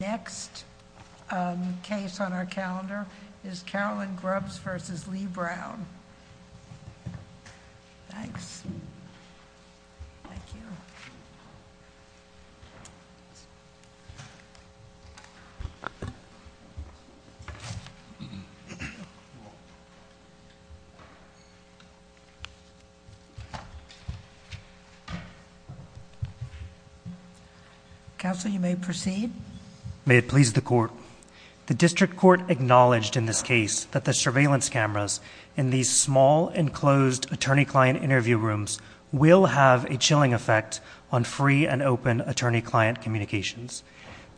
Next case on our calendar is Carolyn Grubbs v. Lee Brown. Thanks. Council, you may proceed. May it please the Court. The District Court acknowledged in this case that the surveillance cameras in these small enclosed attorney-client interview rooms will have a chilling effect on free and open attorney-client communications.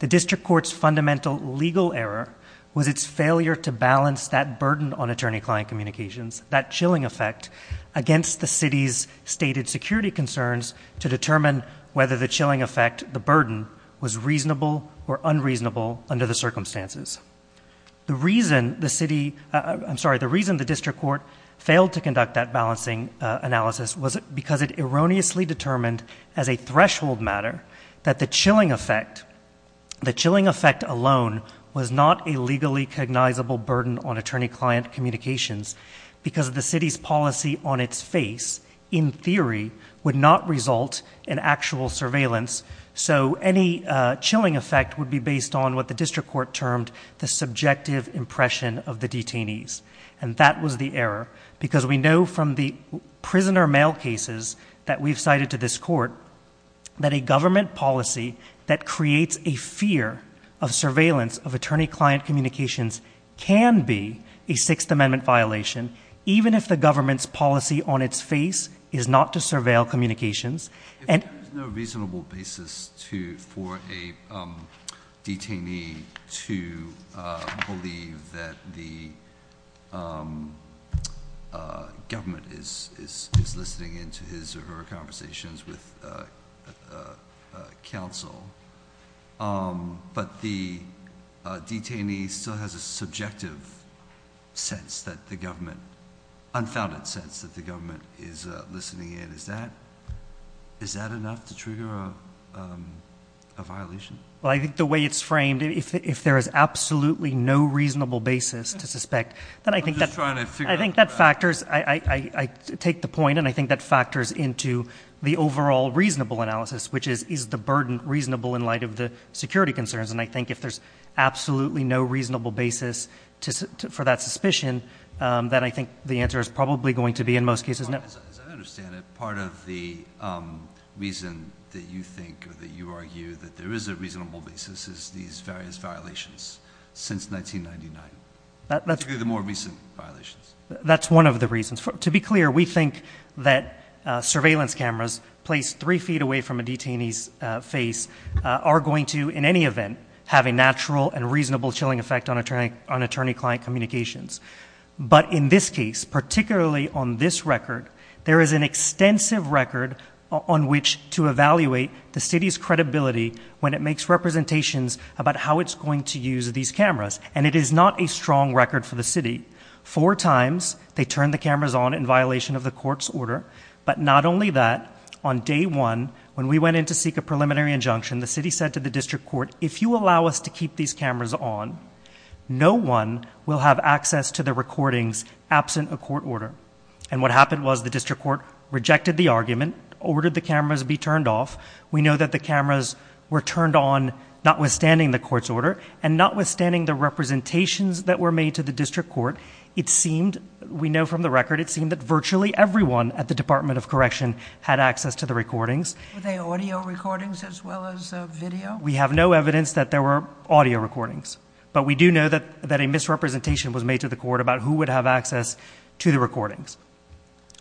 The District Court's fundamental legal error was its failure to balance that burden on attorney-client communications, that chilling effect, against the city's stated security concerns to determine whether the chilling effect, the burden, was reasonable or unreasonable under the circumstances. The reason the city, I'm sorry, the reason the District Court failed to conduct that balancing analysis was because it erroneously determined as a threshold matter that the chilling effect, the chilling effect alone, was not a legally cognizable burden on attorney-client communications because of the city's policy on its face, in theory, would not result in actual surveillance, so any chilling effect would be based on what the District Court termed the subjective impression of the detainees. And that was the error because we know from the prisoner mail cases that we've cited to this Court that a government policy that creates a fear of surveillance of attorney-client communications can be a Sixth Amendment violation, even if the government's policy on its face is not to surveil the case. So, is there a reasonable basis to, for a detainee to believe that the government is listening in to his or her conversations with counsel, but the detainee still has a subjective sense that the government, unfounded sense that the government is listening in? Is that enough to trigger a violation? Well, I think the way it's framed, if there is absolutely no reasonable basis to suspect, then I think that factors, I take the point and I think that factors into the overall reasonable analysis, which is, is the burden reasonable in light of the security concerns? And I think if there's absolutely no reasonable basis for that suspicion, then I think the answer is probably going to be, in most cases, no. As I understand it, part of the reason that you think or that you argue that there is a reasonable basis is these various violations since 1999. That's the more recent violations. That's one of the reasons. To be clear, we think that surveillance cameras placed three feet away from a detainee's face are going to, in any event, have a natural and reasonable chilling effect on attorney-client communications. But in this case, particularly on this record, there is an extensive record on which to evaluate the city's credibility when it makes representations about how it's going to use these cameras. And it is not a strong record for the city. Four times they turned the cameras on in violation of the court's order. But not only that, on day one, when we went in to seek a preliminary injunction, the city said to the district court, if you allow us to keep these cameras on, no one will have access to the recordings absent a court order. And what happened was the district court rejected the argument, ordered the cameras be turned off. We know that the cameras were turned on, notwithstanding the court's order and notwithstanding the representations that were made to the district court. It seemed, we know from the record, it seemed that virtually everyone at the Department of Correction had access to the recordings. Were they audio recordings as well as video? We have no evidence that there were audio recordings, but we do know that that a misrepresentation was made to the court about who would have access to the recordings.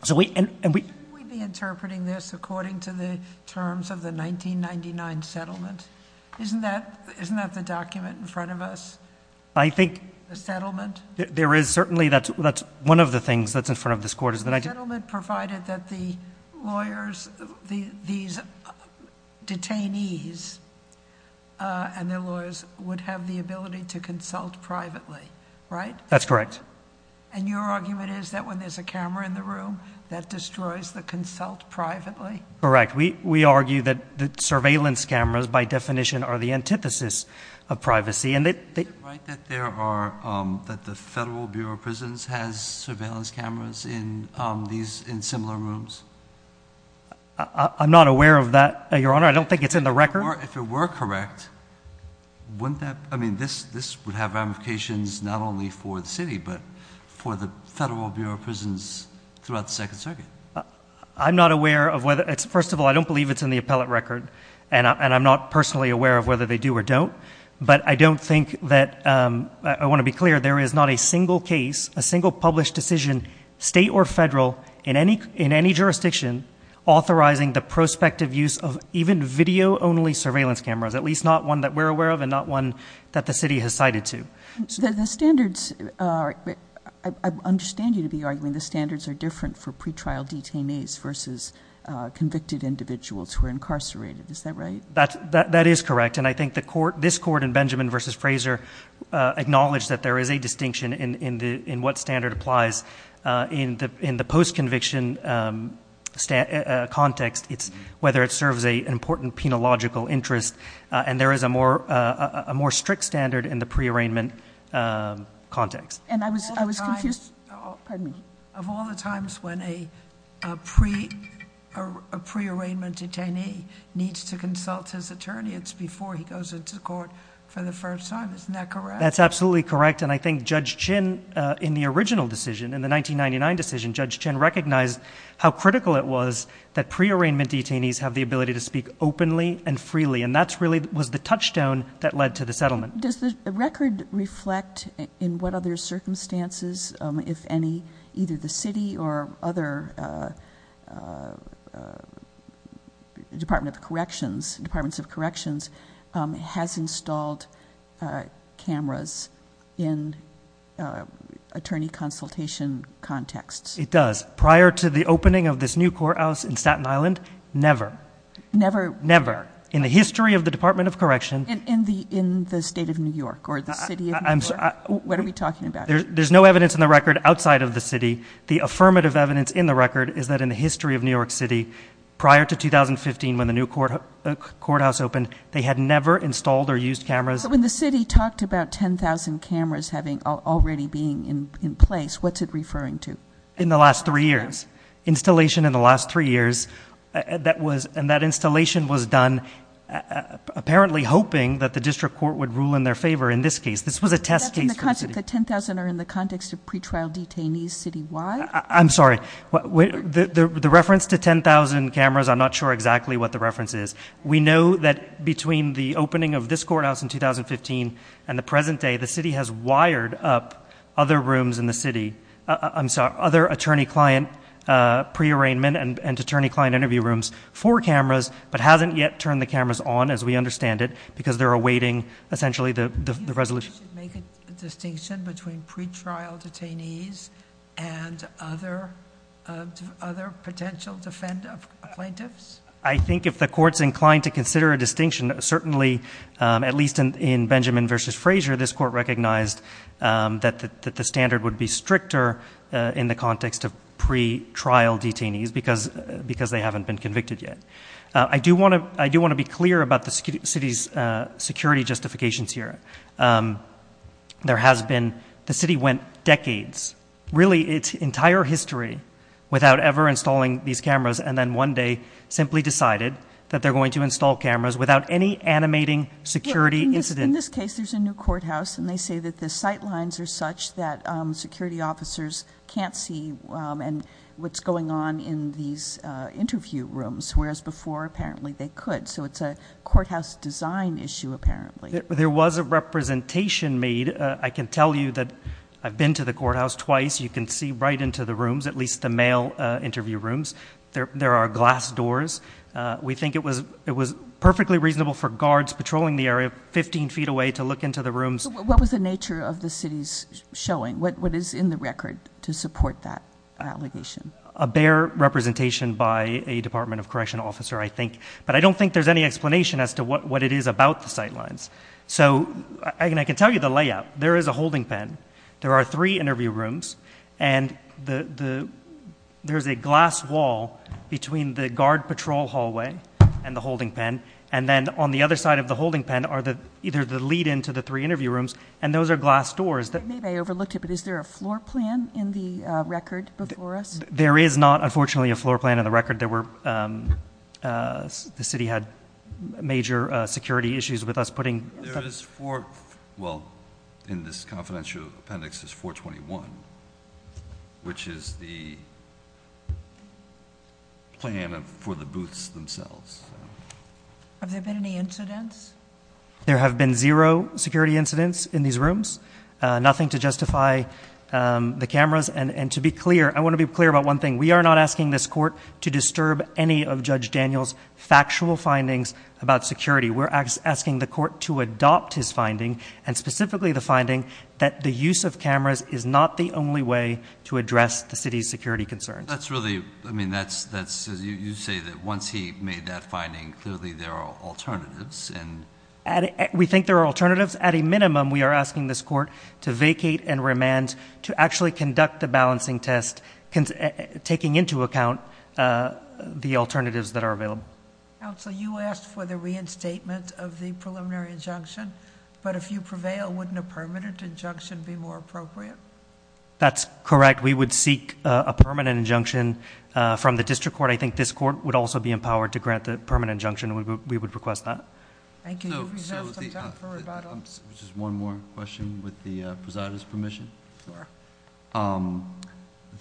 So we, and we, we'd be interpreting this according to the terms of the 1999 settlement. Isn't that, isn't that the document in front of us? I think, the settlement, there is certainly, that's, that's one of the things that's in front of this court. The settlement provided that the lawyers, the, these detainees and their lawyers would have the ability to consult privately, right? That's correct. And your argument is that when there's a camera in the room, that destroys the consult privately? Correct. We, we argue that the surveillance cameras by definition are the antithesis of privacy and that they. Is it right that there are, that the Federal Bureau of Prisons has surveillance cameras in these, in similar rooms? I'm not aware of that, Your Honor. I don't think it's in the record. If it were correct, wouldn't that, I mean, this, this would have ramifications not only for the city, but for the Federal Bureau of Prisons throughout the second circuit. I'm not aware of whether it's, first of all, I don't believe it's in the appellate record and I'm not personally aware of whether they do or don't, but I don't think that I want to be clear. There is not a single case, a single published decision, state or federal in any, in any jurisdiction, authorizing the prospective use of even video only surveillance cameras, at least not one that we're aware of and not one that the city has cited to. So the standards are, I understand you to be arguing the standards are different for pretrial detainees versus convicted individuals who are incarcerated. Is that right? That, that, that is correct. And I think the court, this court in Benjamin versus Fraser acknowledged that there is a distinction in, in the, in what standard applies in the, in the post-conviction context. It's whether it serves a, an important penological interest and there is a more, a more strict standard in the pre-arraignment context. And I was, I was confused, pardon me. Of all the times when a pre, a pre-arraignment detainee needs to consult his attorney, it's before he goes into court for the first time. Isn't that correct? That's absolutely correct. And I think Judge Chin, in the original decision, in the 1999 decision, Judge Chin recognized how critical it was that pre-arrangement detainees have the ability to speak openly and freely. And that's really, was the touchstone that led to the settlement. Does the record reflect in what other circumstances, if any, either the city or other Department of Corrections, Departments of Corrections, has installed cameras in attorney consultation contexts? It does. Prior to the opening of this new courthouse in Staten Island, never. Never? Never. In the history of the Department of Correction. In the, in the state of New York or the city of New York? I'm sorry. What are we talking about? There's no evidence in the record outside of the city. The affirmative evidence in the record is that in the history of New York City, prior to 2015, when the new court, courthouse opened, they had never installed or used cameras. So when the city talked about 10,000 cameras having, already being in place, what's it referring to? In the last three years. Installation in the last three years, that was, and that installation was done apparently hoping that the district court would rule in their favor. In this case, this was a test case. That's in the context, the 10,000 are in the context of pre-trial detainees citywide? I'm sorry. The reference to 10,000 cameras, I'm not sure exactly what the reference is. We know that between the opening of this courthouse in 2015 and the present day, the city has wired up other rooms in the city. I'm sorry. Other attorney client pre-arrangement and attorney client interview rooms for cameras, but hasn't yet turned the cameras on as we understand it because they're awaiting essentially the resolution. Make a distinction between pre-trial detainees and other, other potential defendant plaintiffs? I think if the court's inclined to consider a distinction, certainly at least in Benjamin versus Frazier, this court recognized that the standard would be stricter in the context of pre-trial detainees because they haven't been convicted yet. I do want to be clear about the city's security justifications here. There has been, the city went decades, really its entire history without ever installing these cameras. And then one day simply decided that they're going to install cameras without any animating security incident. In this case, there's a new courthouse and they say that the sight lines are such that security officers can't see what's going on in these interview rooms, whereas before apparently they could. So it's a courthouse design issue apparently. There was a representation made. I can tell you that I've been to the courthouse twice. You can see right into the rooms, at least the male interview rooms. There, there are glass doors. We think it was, it was perfectly reasonable for guards patrolling the area, 15 feet away to look into the rooms. What was the nature of the city's showing? What, what is in the record to support that allegation? A bare representation by a department of correction officer, I think, but I don't think there's any explanation as to what, what it is about the sight lines. So I can, I can tell you the layout. There is a holding pen. There are three interview rooms and the, the, there's a glass wall between the guard patrol hallway and the holding pen. And then on the other side of the holding pen are the, either the lead into the three interview rooms. And those are glass doors. Maybe I overlooked it, but is there a floor plan in the record before us? There is not unfortunately a floor plan in the record. There were, um, uh, the city had major security issues with us putting There is four, well, in this confidential appendix is 421, which is the plan of, for the booths themselves. Have there been any incidents? There have been zero security incidents in these rooms. Uh, nothing to justify, um, the cameras and, and to be clear, I want to be clear about one thing. We are not asking this court to disturb any of judge Daniel's factual findings about security. We're asking the court to adopt his finding and specifically the finding that the use of cameras is not the only way to address the city's security concerns. That's really, I mean, that's, that's, you say that once he made that finding clearly there are alternatives. And we think there are alternatives at a minimum. We are asking this court to vacate and remand to actually conduct the balancing test, taking into account, uh, the alternatives that are available. Counselor, you asked for the reinstatement of the preliminary injunction, but if you prevail, wouldn't a permanent injunction be more appropriate? That's correct. We would seek a permanent injunction, uh, from the district court. I think this court would also be empowered to grant the permanent injunction. We would, we would request that. Thank you. Just one more question with the president's permission. Sure. Um,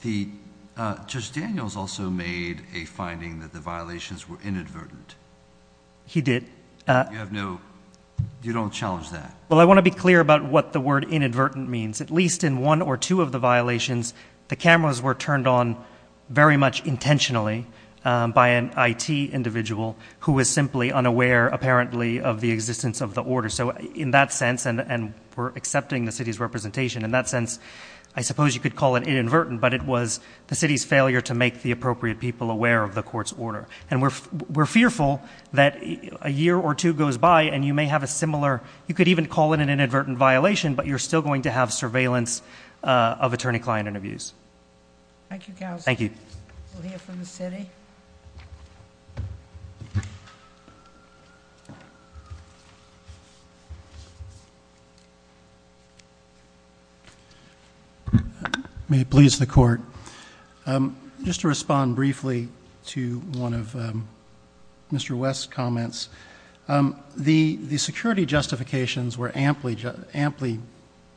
the, uh, just Daniel's also made a finding that the violations were inadvertent. He did, uh, you have no, you don't challenge that. Well, I want to be clear about what the word inadvertent means, at least in one or two of the violations, the cameras were turned on very much intentionally, um, by an it individual who is simply unaware, apparently of the existence of the order. So in that sense, and, and we're accepting the city's representation in that sense, I suppose you could call it inadvertent, but it was the city's failure to make the appropriate people aware of the court's order. And we're, we're fearful that a year or two goes by and you may have a similar, you could even call it an inadvertent violation, but you're still going to have surveillance, uh, of attorney client interviews. Thank you. Thank you. We'll hear from the city. Okay. May it please the court. Um, just to respond briefly to one of, um, Mr. West comments, um, the, the security justifications were amply, amply,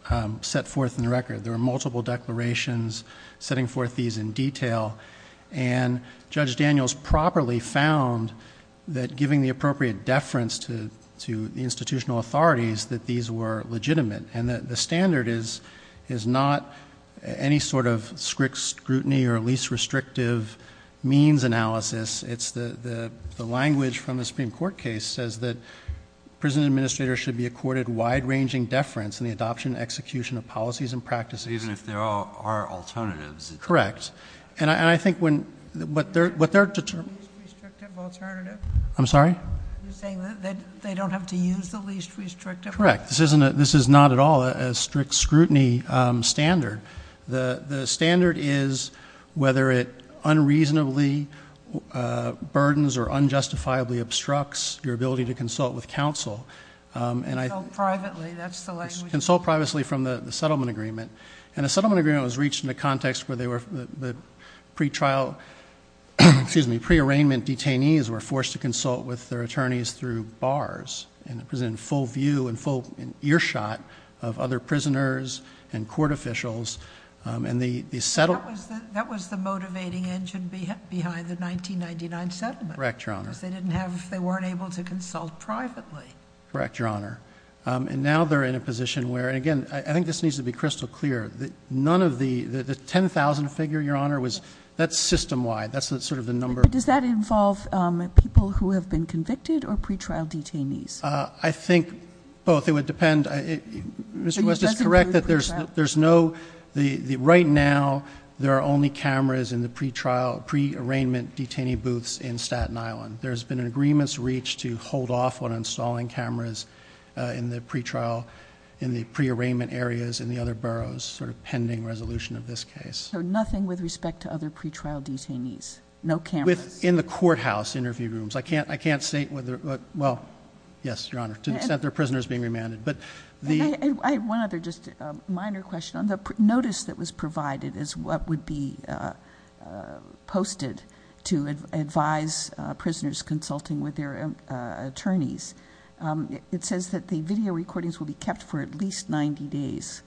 um, set forth in the record. There were multiple declarations setting forth these in detail and judge Daniels properly found that giving the appropriate deference to, to the institutional authorities, that these were legitimate and that the standard is, is not any sort of strict scrutiny or at least restrictive means analysis. It's the, the, the language from the Supreme court case says that prison administrators should be accorded wide ranging deference in the adoption execution of policies and practices. Even if there are alternatives. Correct. And I, and I think when, what they're, what they're determined, I'm sorry. You're saying that they don't have to use the least restrictive. Correct. This isn't a, this is not at all a strict scrutiny standard. The standard is whether it unreasonably, uh, burdens or unjustifiably obstructs your ability to consult with counsel. Um, and I privately that's the language, consult privately from the settlement agreement and the settlement agreement was reached in a context where they were pre-trial, excuse me, pre-arraignment detainees were forced to consult with their attorneys through bars and present full view and full earshot of other prisoners and court officials. Um, and the, the settlement... That was the motivating engine behind the 1999 settlement. Correct, Your Honor. Because they didn't have, they weren't able to consult privately. Correct, Your Honor. Um, and now they're in a position where, and again, I think this needs to be crystal clear. None of the, the 10,000 figure, Your Honor, was that system-wide. That's sort of the number. Does that involve, um, people who have been convicted or pre-trial detainees? Uh, I think both. It would depend. I, Mr. West is correct that there's, there's no, the, the right now there are only cameras in the pre-trial, pre-arraignment detainee booths in Staten Island. There's been an agreements reached to hold off on installing cameras, uh, in the pre-trial, in the pre-arraignment areas in the other boroughs. Sort of pending resolution of this case. So nothing with respect to other pre-trial detainees? No cameras? In the courthouse interview rooms. I can't, I can't say whether, well, yes, Your Honor. To the extent there are prisoners being remanded, but the... I have one other, just a minor question. On the notice that was provided as what would be, uh, uh, posted to advise, uh, prisoners consulting with their, uh, attorneys, um, it says that the video recordings will be kept for at least 90 days.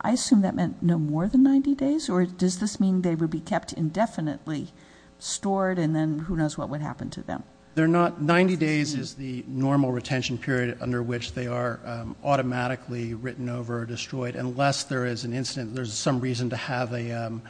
I assume that meant no more than 90 days, or does this mean they would be kept indefinitely, stored, and then who knows what would happen to them? They're not, 90 days is the normal retention period under which they are, um, automatically written over or destroyed unless there is an incident. There's some reason to have a, um,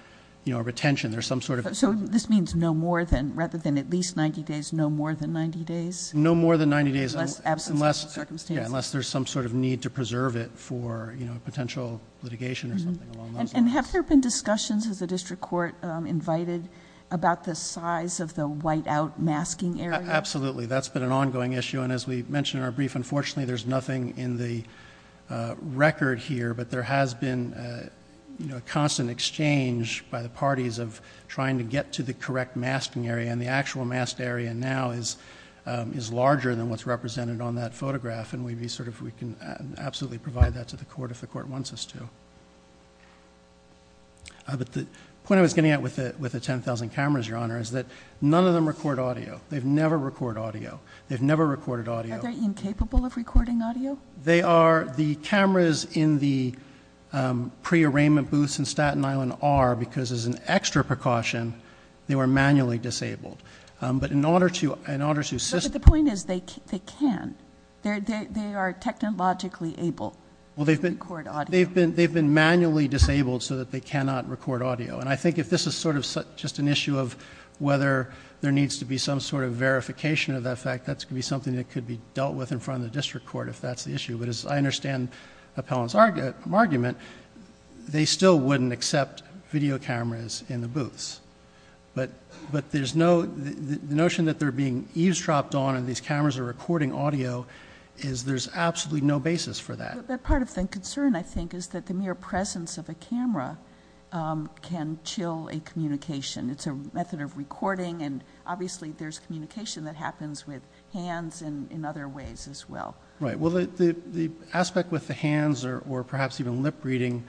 you know, a retention. There's some sort of... So this means no more than, rather than at least 90 days, no more than 90 days? No more than 90 days. Unless absence of circumstance. Unless there's some sort of need to preserve it for, you know, potential litigation or something along those lines. And have there been discussions, has the district court, um, invited about the size of the white out masking area? Absolutely. That's been an ongoing issue. And as we mentioned in our brief, unfortunately, there's nothing in the, uh, record here, but there has been, uh, you know, a constant exchange by the parties of trying to get to the correct masking area and the actual masked area now is, um, is larger than what's represented on that photograph. And we'd be sort of, we can absolutely provide that to the court if the court wants us to. Uh, but the point I was getting at with the, with the 10,000 cameras, your honor, is that none of them record audio. They've never record audio. They've never recorded audio. Are they incapable of recording audio? They are. The cameras in the, um, pre arraignment booths in Staten Island are, because as an extra precaution, they were manually disabled. Um, but in order to, in order to assist... They are technologically able to record audio. They've been, they've been manually disabled so that they cannot record audio. And I think if this is sort of just an issue of whether there needs to be some sort of verification of that fact, that's going to be something that could be dealt with in front of the district court if that's the issue. But as I understand Appellant's argument, they still wouldn't accept video cameras in the booths. But, but there's no, the notion that they're being eavesdropped on and these is there's absolutely no basis for that. But part of the concern I think is that the mere presence of a camera, um, can chill a communication. It's a method of recording and obviously there's communication that happens with hands and in other ways as well. Right. Well, the, the, the aspect with the hands or, or perhaps even lip reading,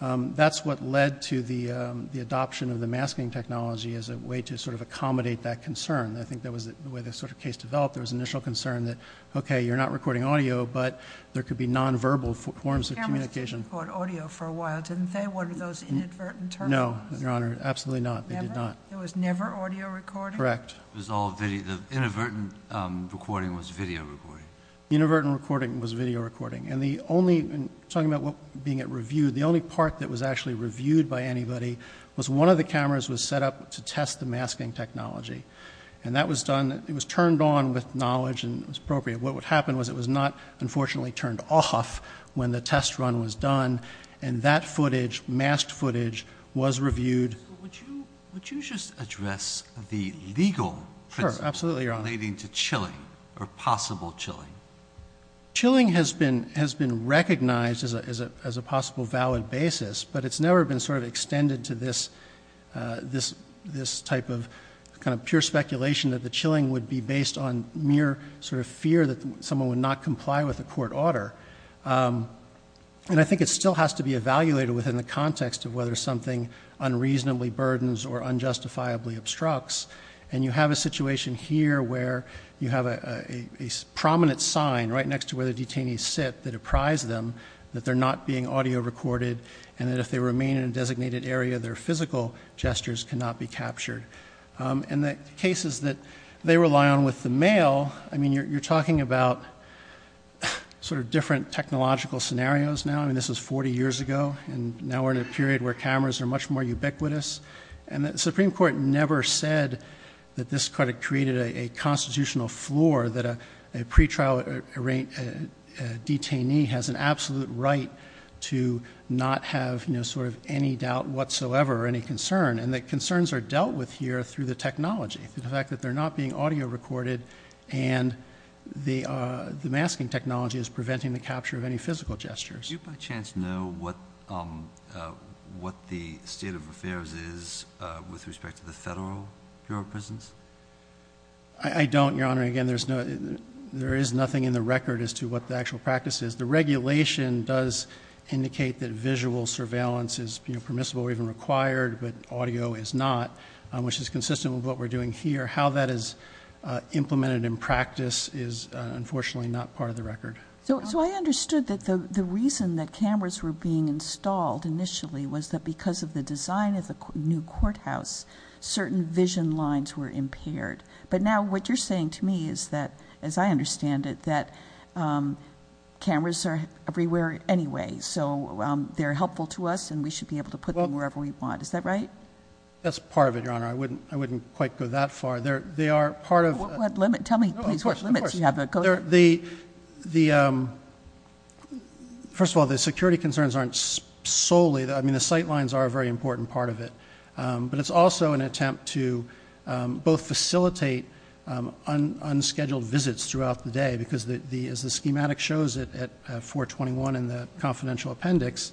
um, that's what led to the, um, the adoption of the masking technology as a way to sort of accommodate that concern. And I think that was the way this sort of case developed. There was initial concern that, okay, you're not recording audio, but there could be nonverbal forms of communication. The cameras didn't record audio for a while, didn't they? What are those inadvertent terminals? No, Your Honor. Absolutely not. They did not. There was never audio recording? Correct. It was all video, the inadvertent, um, recording was video recording. Inadvertent recording was video recording. And the only, and talking about what being at review, the only part that was actually reviewed by anybody was one of the cameras was set up to test the masking technology. And that was done, it was turned on with knowledge and it was appropriate. What would happen was it was not unfortunately turned off when the test run was done and that footage, masked footage was reviewed. Would you just address the legal, relating to chilling or possible chilling? Chilling has been, has been recognized as a, as a, as a possible valid basis, but it's never been sort of extended to this, uh, this, this type of kind of pure speculation that the chilling would be based on mere sort of fear that someone would not comply with the court order. Um, and I think it still has to be evaluated within the context of whether something unreasonably burdens or unjustifiably obstructs. And you have a situation here where you have a prominent sign right next to where the detainees sit that apprise them that they're not being audio recorded and that if they remain in a designated area, their physical gestures cannot be captured. Um, and the cases that they rely on with the mail, I mean, you're, you're talking about sort of different technological scenarios now. I mean, this was 40 years ago and now we're in a period where cameras are much more ubiquitous. And the Supreme court never said that this credit created a constitutional floor that a pretrial detainee has an absolute right to not have, you know, sort of any doubt whatsoever or any concern. And the concerns are dealt with here through the technology, through the fact that they're not being audio recorded and the, uh, the masking technology is preventing the capture of any physical gestures. You by chance know what, um, uh, what the state of affairs is, uh, with respect to the federal Bureau of prisons. I don't, Your Honor. Again, there's no, there is nothing in the record as to what the actual practice is. The regulation does indicate that visual surveillance is permissible or even required, but audio is not, um, which is consistent with what we're doing here, how that is, uh, implemented in practice is unfortunately not part of the record. So, so I understood that the, the reason that cameras were being installed initially was that because of the design of the new courthouse, certain vision lines were impaired. But now what you're saying to me is that, as I understand it, that, um, cameras are everywhere anyway. So, um, they're helpful to us and we should be able to put them wherever we want. Is that right? That's part of it. Your Honor. I wouldn't, I wouldn't quite go that far there. They are part of limit. Tell me what limits you have. The, the, um, first of all, the security concerns aren't solely that, I mean, the sight lines are a very important part of it. Um, but it's also an attempt to, um, both facilitate, um, un, unscheduled visits throughout the day because the, the, as the schematic shows it at 421 and the confidential appendix,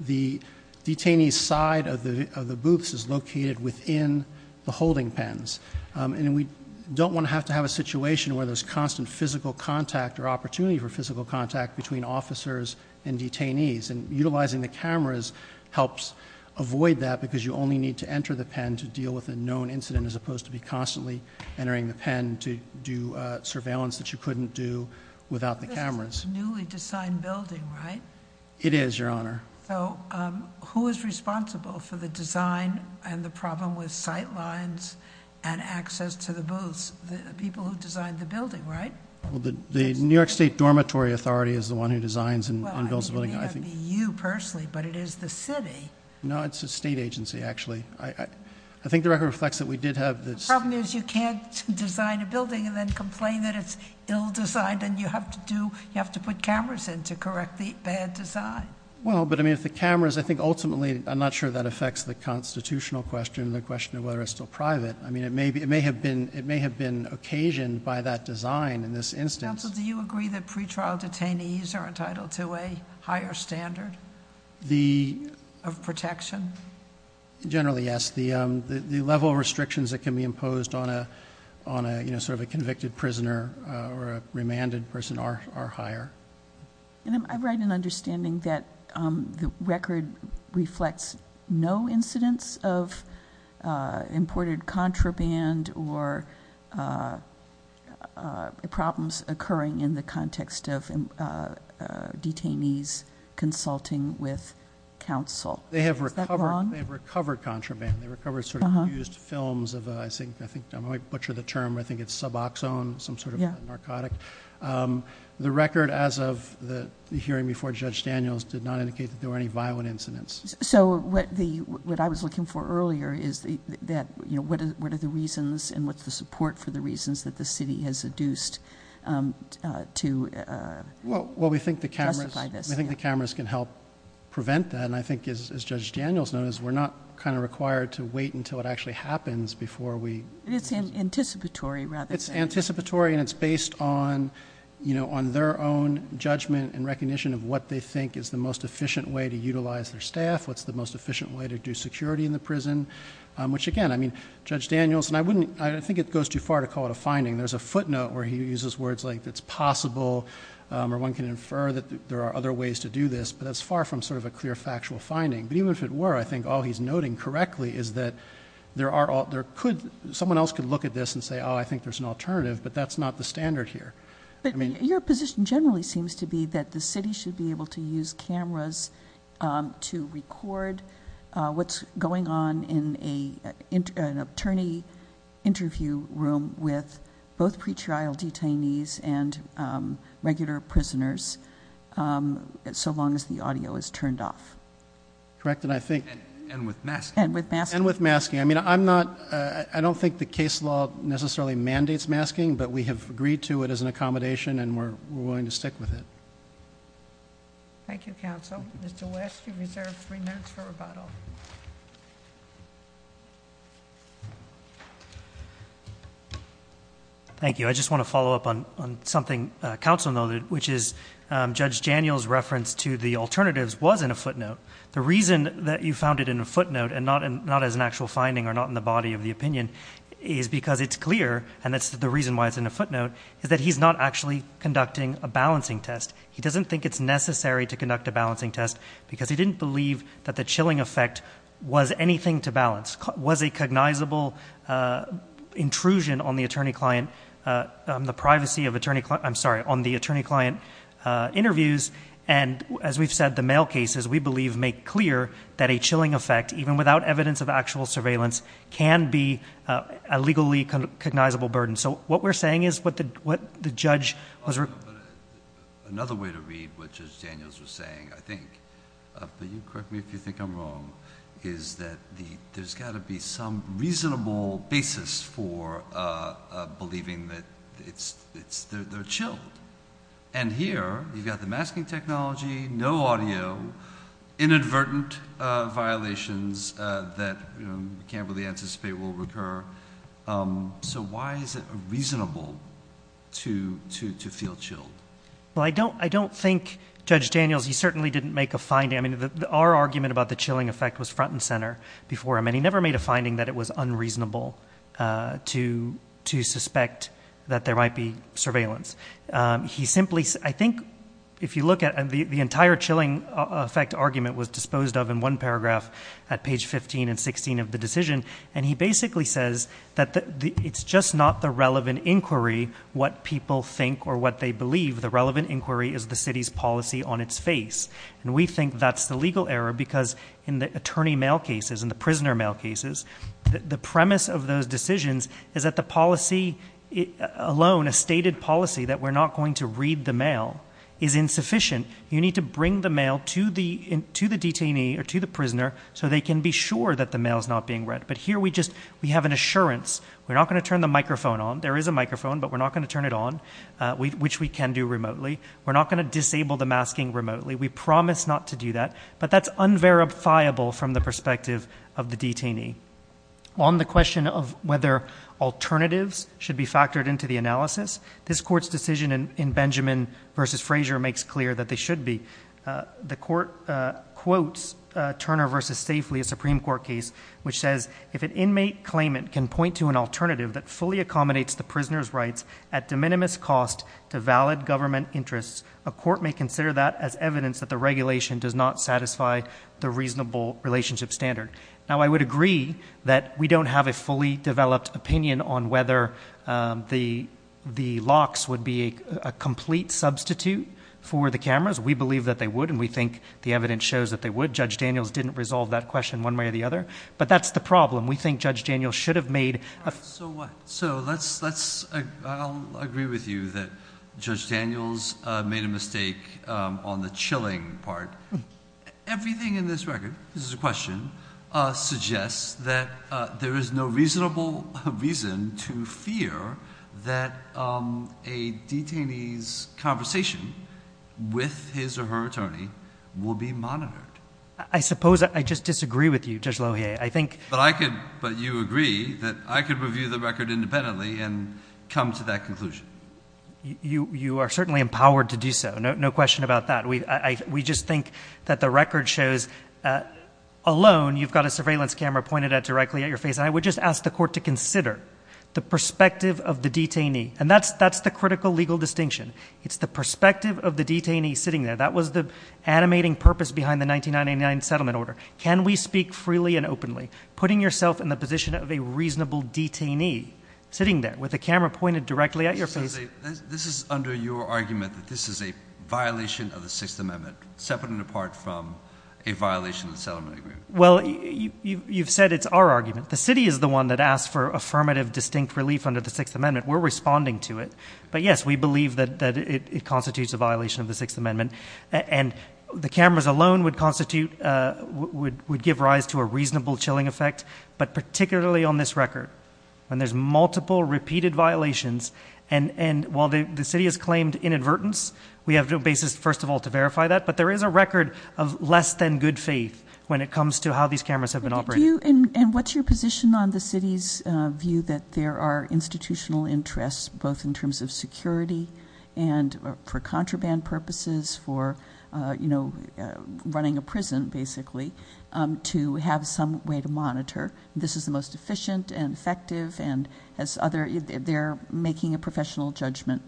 the detainees side of the, of the booths is located within the holding pens. Um, and we don't want to have to have a situation where there's constant physical contact or opportunity for physical contact between officers and need to enter the pen to deal with a known incident as opposed to be constantly entering the pen to do a surveillance that you couldn't do without the cameras. Newly designed building, right? It is your Honor. So, um, who is responsible for the design and the problem with sight lines and access to the booths? The people who designed the building, right? Well, the, the New York state dormitory authority is the one who designs and builds a building. I think you personally, but it is the city. No, it's a state agency. Actually, I, I, I think the record reflects that we did have this problem is you can't design a building and then complain that it's ill designed and you have to do, you have to put cameras in to correct the bad design. Well, but I mean, if the cameras, I think ultimately I'm not sure that affects the constitutional question and the question of whether it's still private. I mean, it may be, it may have been, it may have been occasioned by that design in this instance. Do you agree that pretrial detainees are entitled to a higher standard? The protection? Generally, yes. The, um, the, the level of restrictions that can be imposed on a, on a, you know, sort of a convicted prisoner, uh, or a remanded person are, are higher. And I'm right in understanding that, um, the record reflects no incidents of, uh, imported contraband or, uh, uh, problems occurring in the context of, uh, uh, detainees consulting with counsel. They have recovered, they've recovered contraband. They recovered sort of used films of, uh, I think, I think I might butcher the term, I think it's suboxone, some sort of narcotic. Um, the record as of the hearing before judge Daniels did not indicate that there were any violent incidents. So what the, what I was looking for earlier is that, you know, what is, what are the reasons and what's the support for the reasons that the city has reduced, um, uh, to, uh, well, we think the cameras, I think the cameras can help prevent that. And I think as, as judge Daniels knows, we're not kind of required to wait until it actually happens before we, it's anticipatory rather. It's anticipatory and it's based on, you know, on their own judgment and recognition of what they think is the most efficient way to utilize their staff, what's the most efficient way to do security in the prison. Um, which again, I mean, judge Daniels and I wouldn't, I don't think it goes too far to call it a finding. There's a footnote where he uses words like that's possible. Um, or one can infer that there are other ways to do this, but that's far from sort of a clear factual finding. But even if it were, I think all he's noting correctly is that there are all there could, someone else could look at this and say, oh, I think there's an alternative, but that's not the standard here. I mean, your position generally seems to be that the city should be able to use cameras, um, to record, uh, what's going on in a, in an attorney interview room with both pretrial detainees and, um, regular prisoners. Um, so long as the audio is turned off, correct. And I think, and with masks and with masks and with masking, I mean, I'm not, uh, I don't think the case law necessarily mandates masking, but we have agreed to it as an accommodation and we're, we're willing to stick with it. Thank you, counsel. Mr. West, you reserved three minutes for rebuttal. Thank you. I just want to follow up on, on something council noted, which is, um, judge Daniel's reference to the alternatives was in a footnote. The reason that you found it in a footnote and not, and not as an actual finding or not in the body of the opinion is because it's clear. And that's the reason why it's in a footnote is that he's not actually conducting a balancing test. He doesn't think it's necessary to conduct a balancing test because he didn't believe that the chilling effect was anything to balance was a cognizable, uh, intrusion on the attorney client, uh, um, the privacy of attorney, I'm sorry, on the attorney client, uh, interviews. And as we've said, the mail cases, we believe make clear that a chilling effect, even without evidence of actual surveillance can be a legally cognizable burden. So what we're saying is what the, what the judge was another way to read, which is Daniel's was saying, I think, uh, but you correct me if you think I'm is that the, there's gotta be some reasonable basis for, uh, uh, believing that it's, it's, they're, they're chill. And here you've got the masking technology, no audio inadvertent, uh, violations, uh, that, you know, you can't really anticipate will recur. Um, so why is it reasonable to, to, to feel chill? Well, I don't, I don't think judge Daniels, he certainly didn't make a finding. I mean, our argument about the chilling effect was front and center before him. And he never made a finding that it was unreasonable, uh, to, to suspect that there might be surveillance. Um, he simply, I think if you look at the, the entire chilling effect argument was disposed of in one paragraph at page 15 and 16 of the decision. And he basically says that it's just not the relevant inquiry, what people think or what they believe the relevant inquiry is the city's policy on its face. And we think that's the legal error because in the attorney mail cases and the prisoner mail cases, the premise of those decisions is that the policy alone, a stated policy that we're not going to read the mail is insufficient. You need to bring the mail to the, to the detainee or to the prisoner so they can be sure that the mail is not being read. But here we just, we have an assurance. We're not going to turn the microphone on. There is a microphone, but we're not going to turn it on. Uh, we, which we can do remotely. We're not going to disable the masking remotely. We promise not to do that, but that's unverifiable from the perspective of the detainee on the question of whether alternatives should be factored into the analysis. This court's decision in Benjamin versus Frazier makes clear that they should be, uh, the court, uh, quotes, uh, Turner versus safely a Supreme court case, which says if an inmate claimant can point to an alternative that fully accommodates the prisoner's rights at de minimis cost to valid government interests, a court may consider that as evidence that the regulation does not satisfy the reasonable relationship standard. Now I would agree that we don't have a fully developed opinion on whether, um, the, the locks would be a complete substitute for the cameras. We believe that they would. And we think the evidence shows that they would judge Daniels didn't resolve that question one way or the other, but that's the problem. We think judge Daniel should have made. So what? So let's, let's, uh, I'll agree with you that judge Daniels, uh, made a mistake, um, on the chilling part. Everything in this record, this is a question, uh, suggests that, uh, there is no reasonable reason to fear that, um, a detainee's conversation with his or her attorney will be monitored. I suppose. I just disagree with you just low here. But I could, but you agree that I could review the record independently and come to that conclusion. You, you are certainly empowered to do so. No, no question about that. We, I, we just think that the record shows, uh, alone, you've got a surveillance camera pointed at directly at your face. And I would just ask the court to consider the perspective of the detainee. And that's, that's the critical legal distinction. It's the perspective of the detainee sitting there. That was the animating purpose behind the 1999 settlement order. Can we speak freely and openly putting yourself in the position of a reasonable detainee sitting there with a camera pointed directly at your face? This is under your argument that this is a violation of the sixth amendment separate and apart from a violation of the settlement agreement. Well, you've said it's our argument. The city is the one that asked for affirmative distinct relief under the sixth amendment. We're responding to it. But yes, we believe that, that it constitutes a violation of the sixth amendment and the cameras alone would constitute, uh, would, would give rise to a reasonable chilling effect, but particularly on this record, when there's multiple repeated violations and, and while the city has claimed inadvertence, we have no basis, first of all, to verify that, but there is a record of less than good faith when it comes to how these cameras have been operating. And what's your position on the city's view that there are institutional interests, both in terms of security and for contraband purposes for, uh, you know, uh, running a prison basically, um, to have some way to monitor. This is the most efficient and effective and has other, they're making a professional judgment.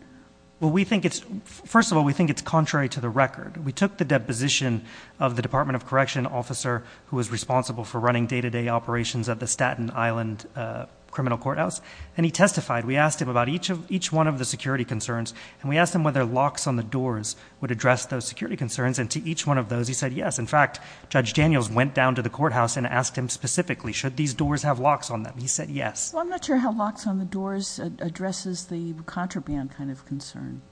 Well, we think it's, first of all, we think it's contrary to the record. We took the deposition of the department of correction officer who was responsible for running day-to-day operations at the Staten Island, uh, criminal courthouse. And he testified, we asked him about each of each one of the security concerns and we asked him whether locks on the doors would address those security concerns. And to each one of those, he said, yes. In fact, judge Daniels went down to the courthouse and asked him specifically, should these doors have locks on them? He said, yes. I'm not sure how locks on the doors addresses the contraband kind of concern.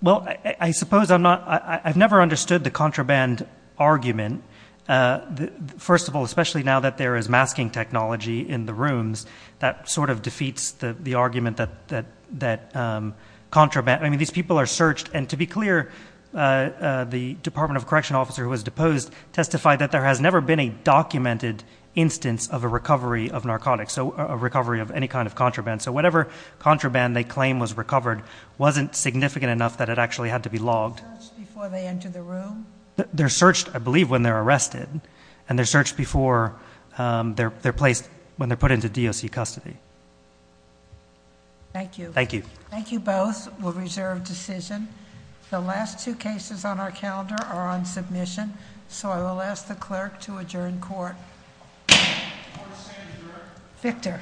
Well, I suppose I'm not, I've never understood the contraband argument. Uh, the first of all, especially now that there is masking technology in the courtroom, it sort of defeats the argument that, that, that, um, contraband, I mean, these people are searched and to be clear, uh, uh, the department of correction officer who was deposed testified that there has never been a documented instance of a recovery of narcotics. So a recovery of any kind of contraband. So whatever contraband they claim was recovered, wasn't significant enough that it actually had to be logged before they enter the room. They're searched, I believe when they're arrested and they're searched before, um, they're, they're placed when they're put into DOC custody. Thank you. Thank you. Thank you. Both will reserve decision. The last two cases on our calendar are on submission. So I will ask the clerk to adjourn court. Victor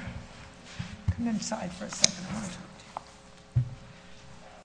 come inside for a second.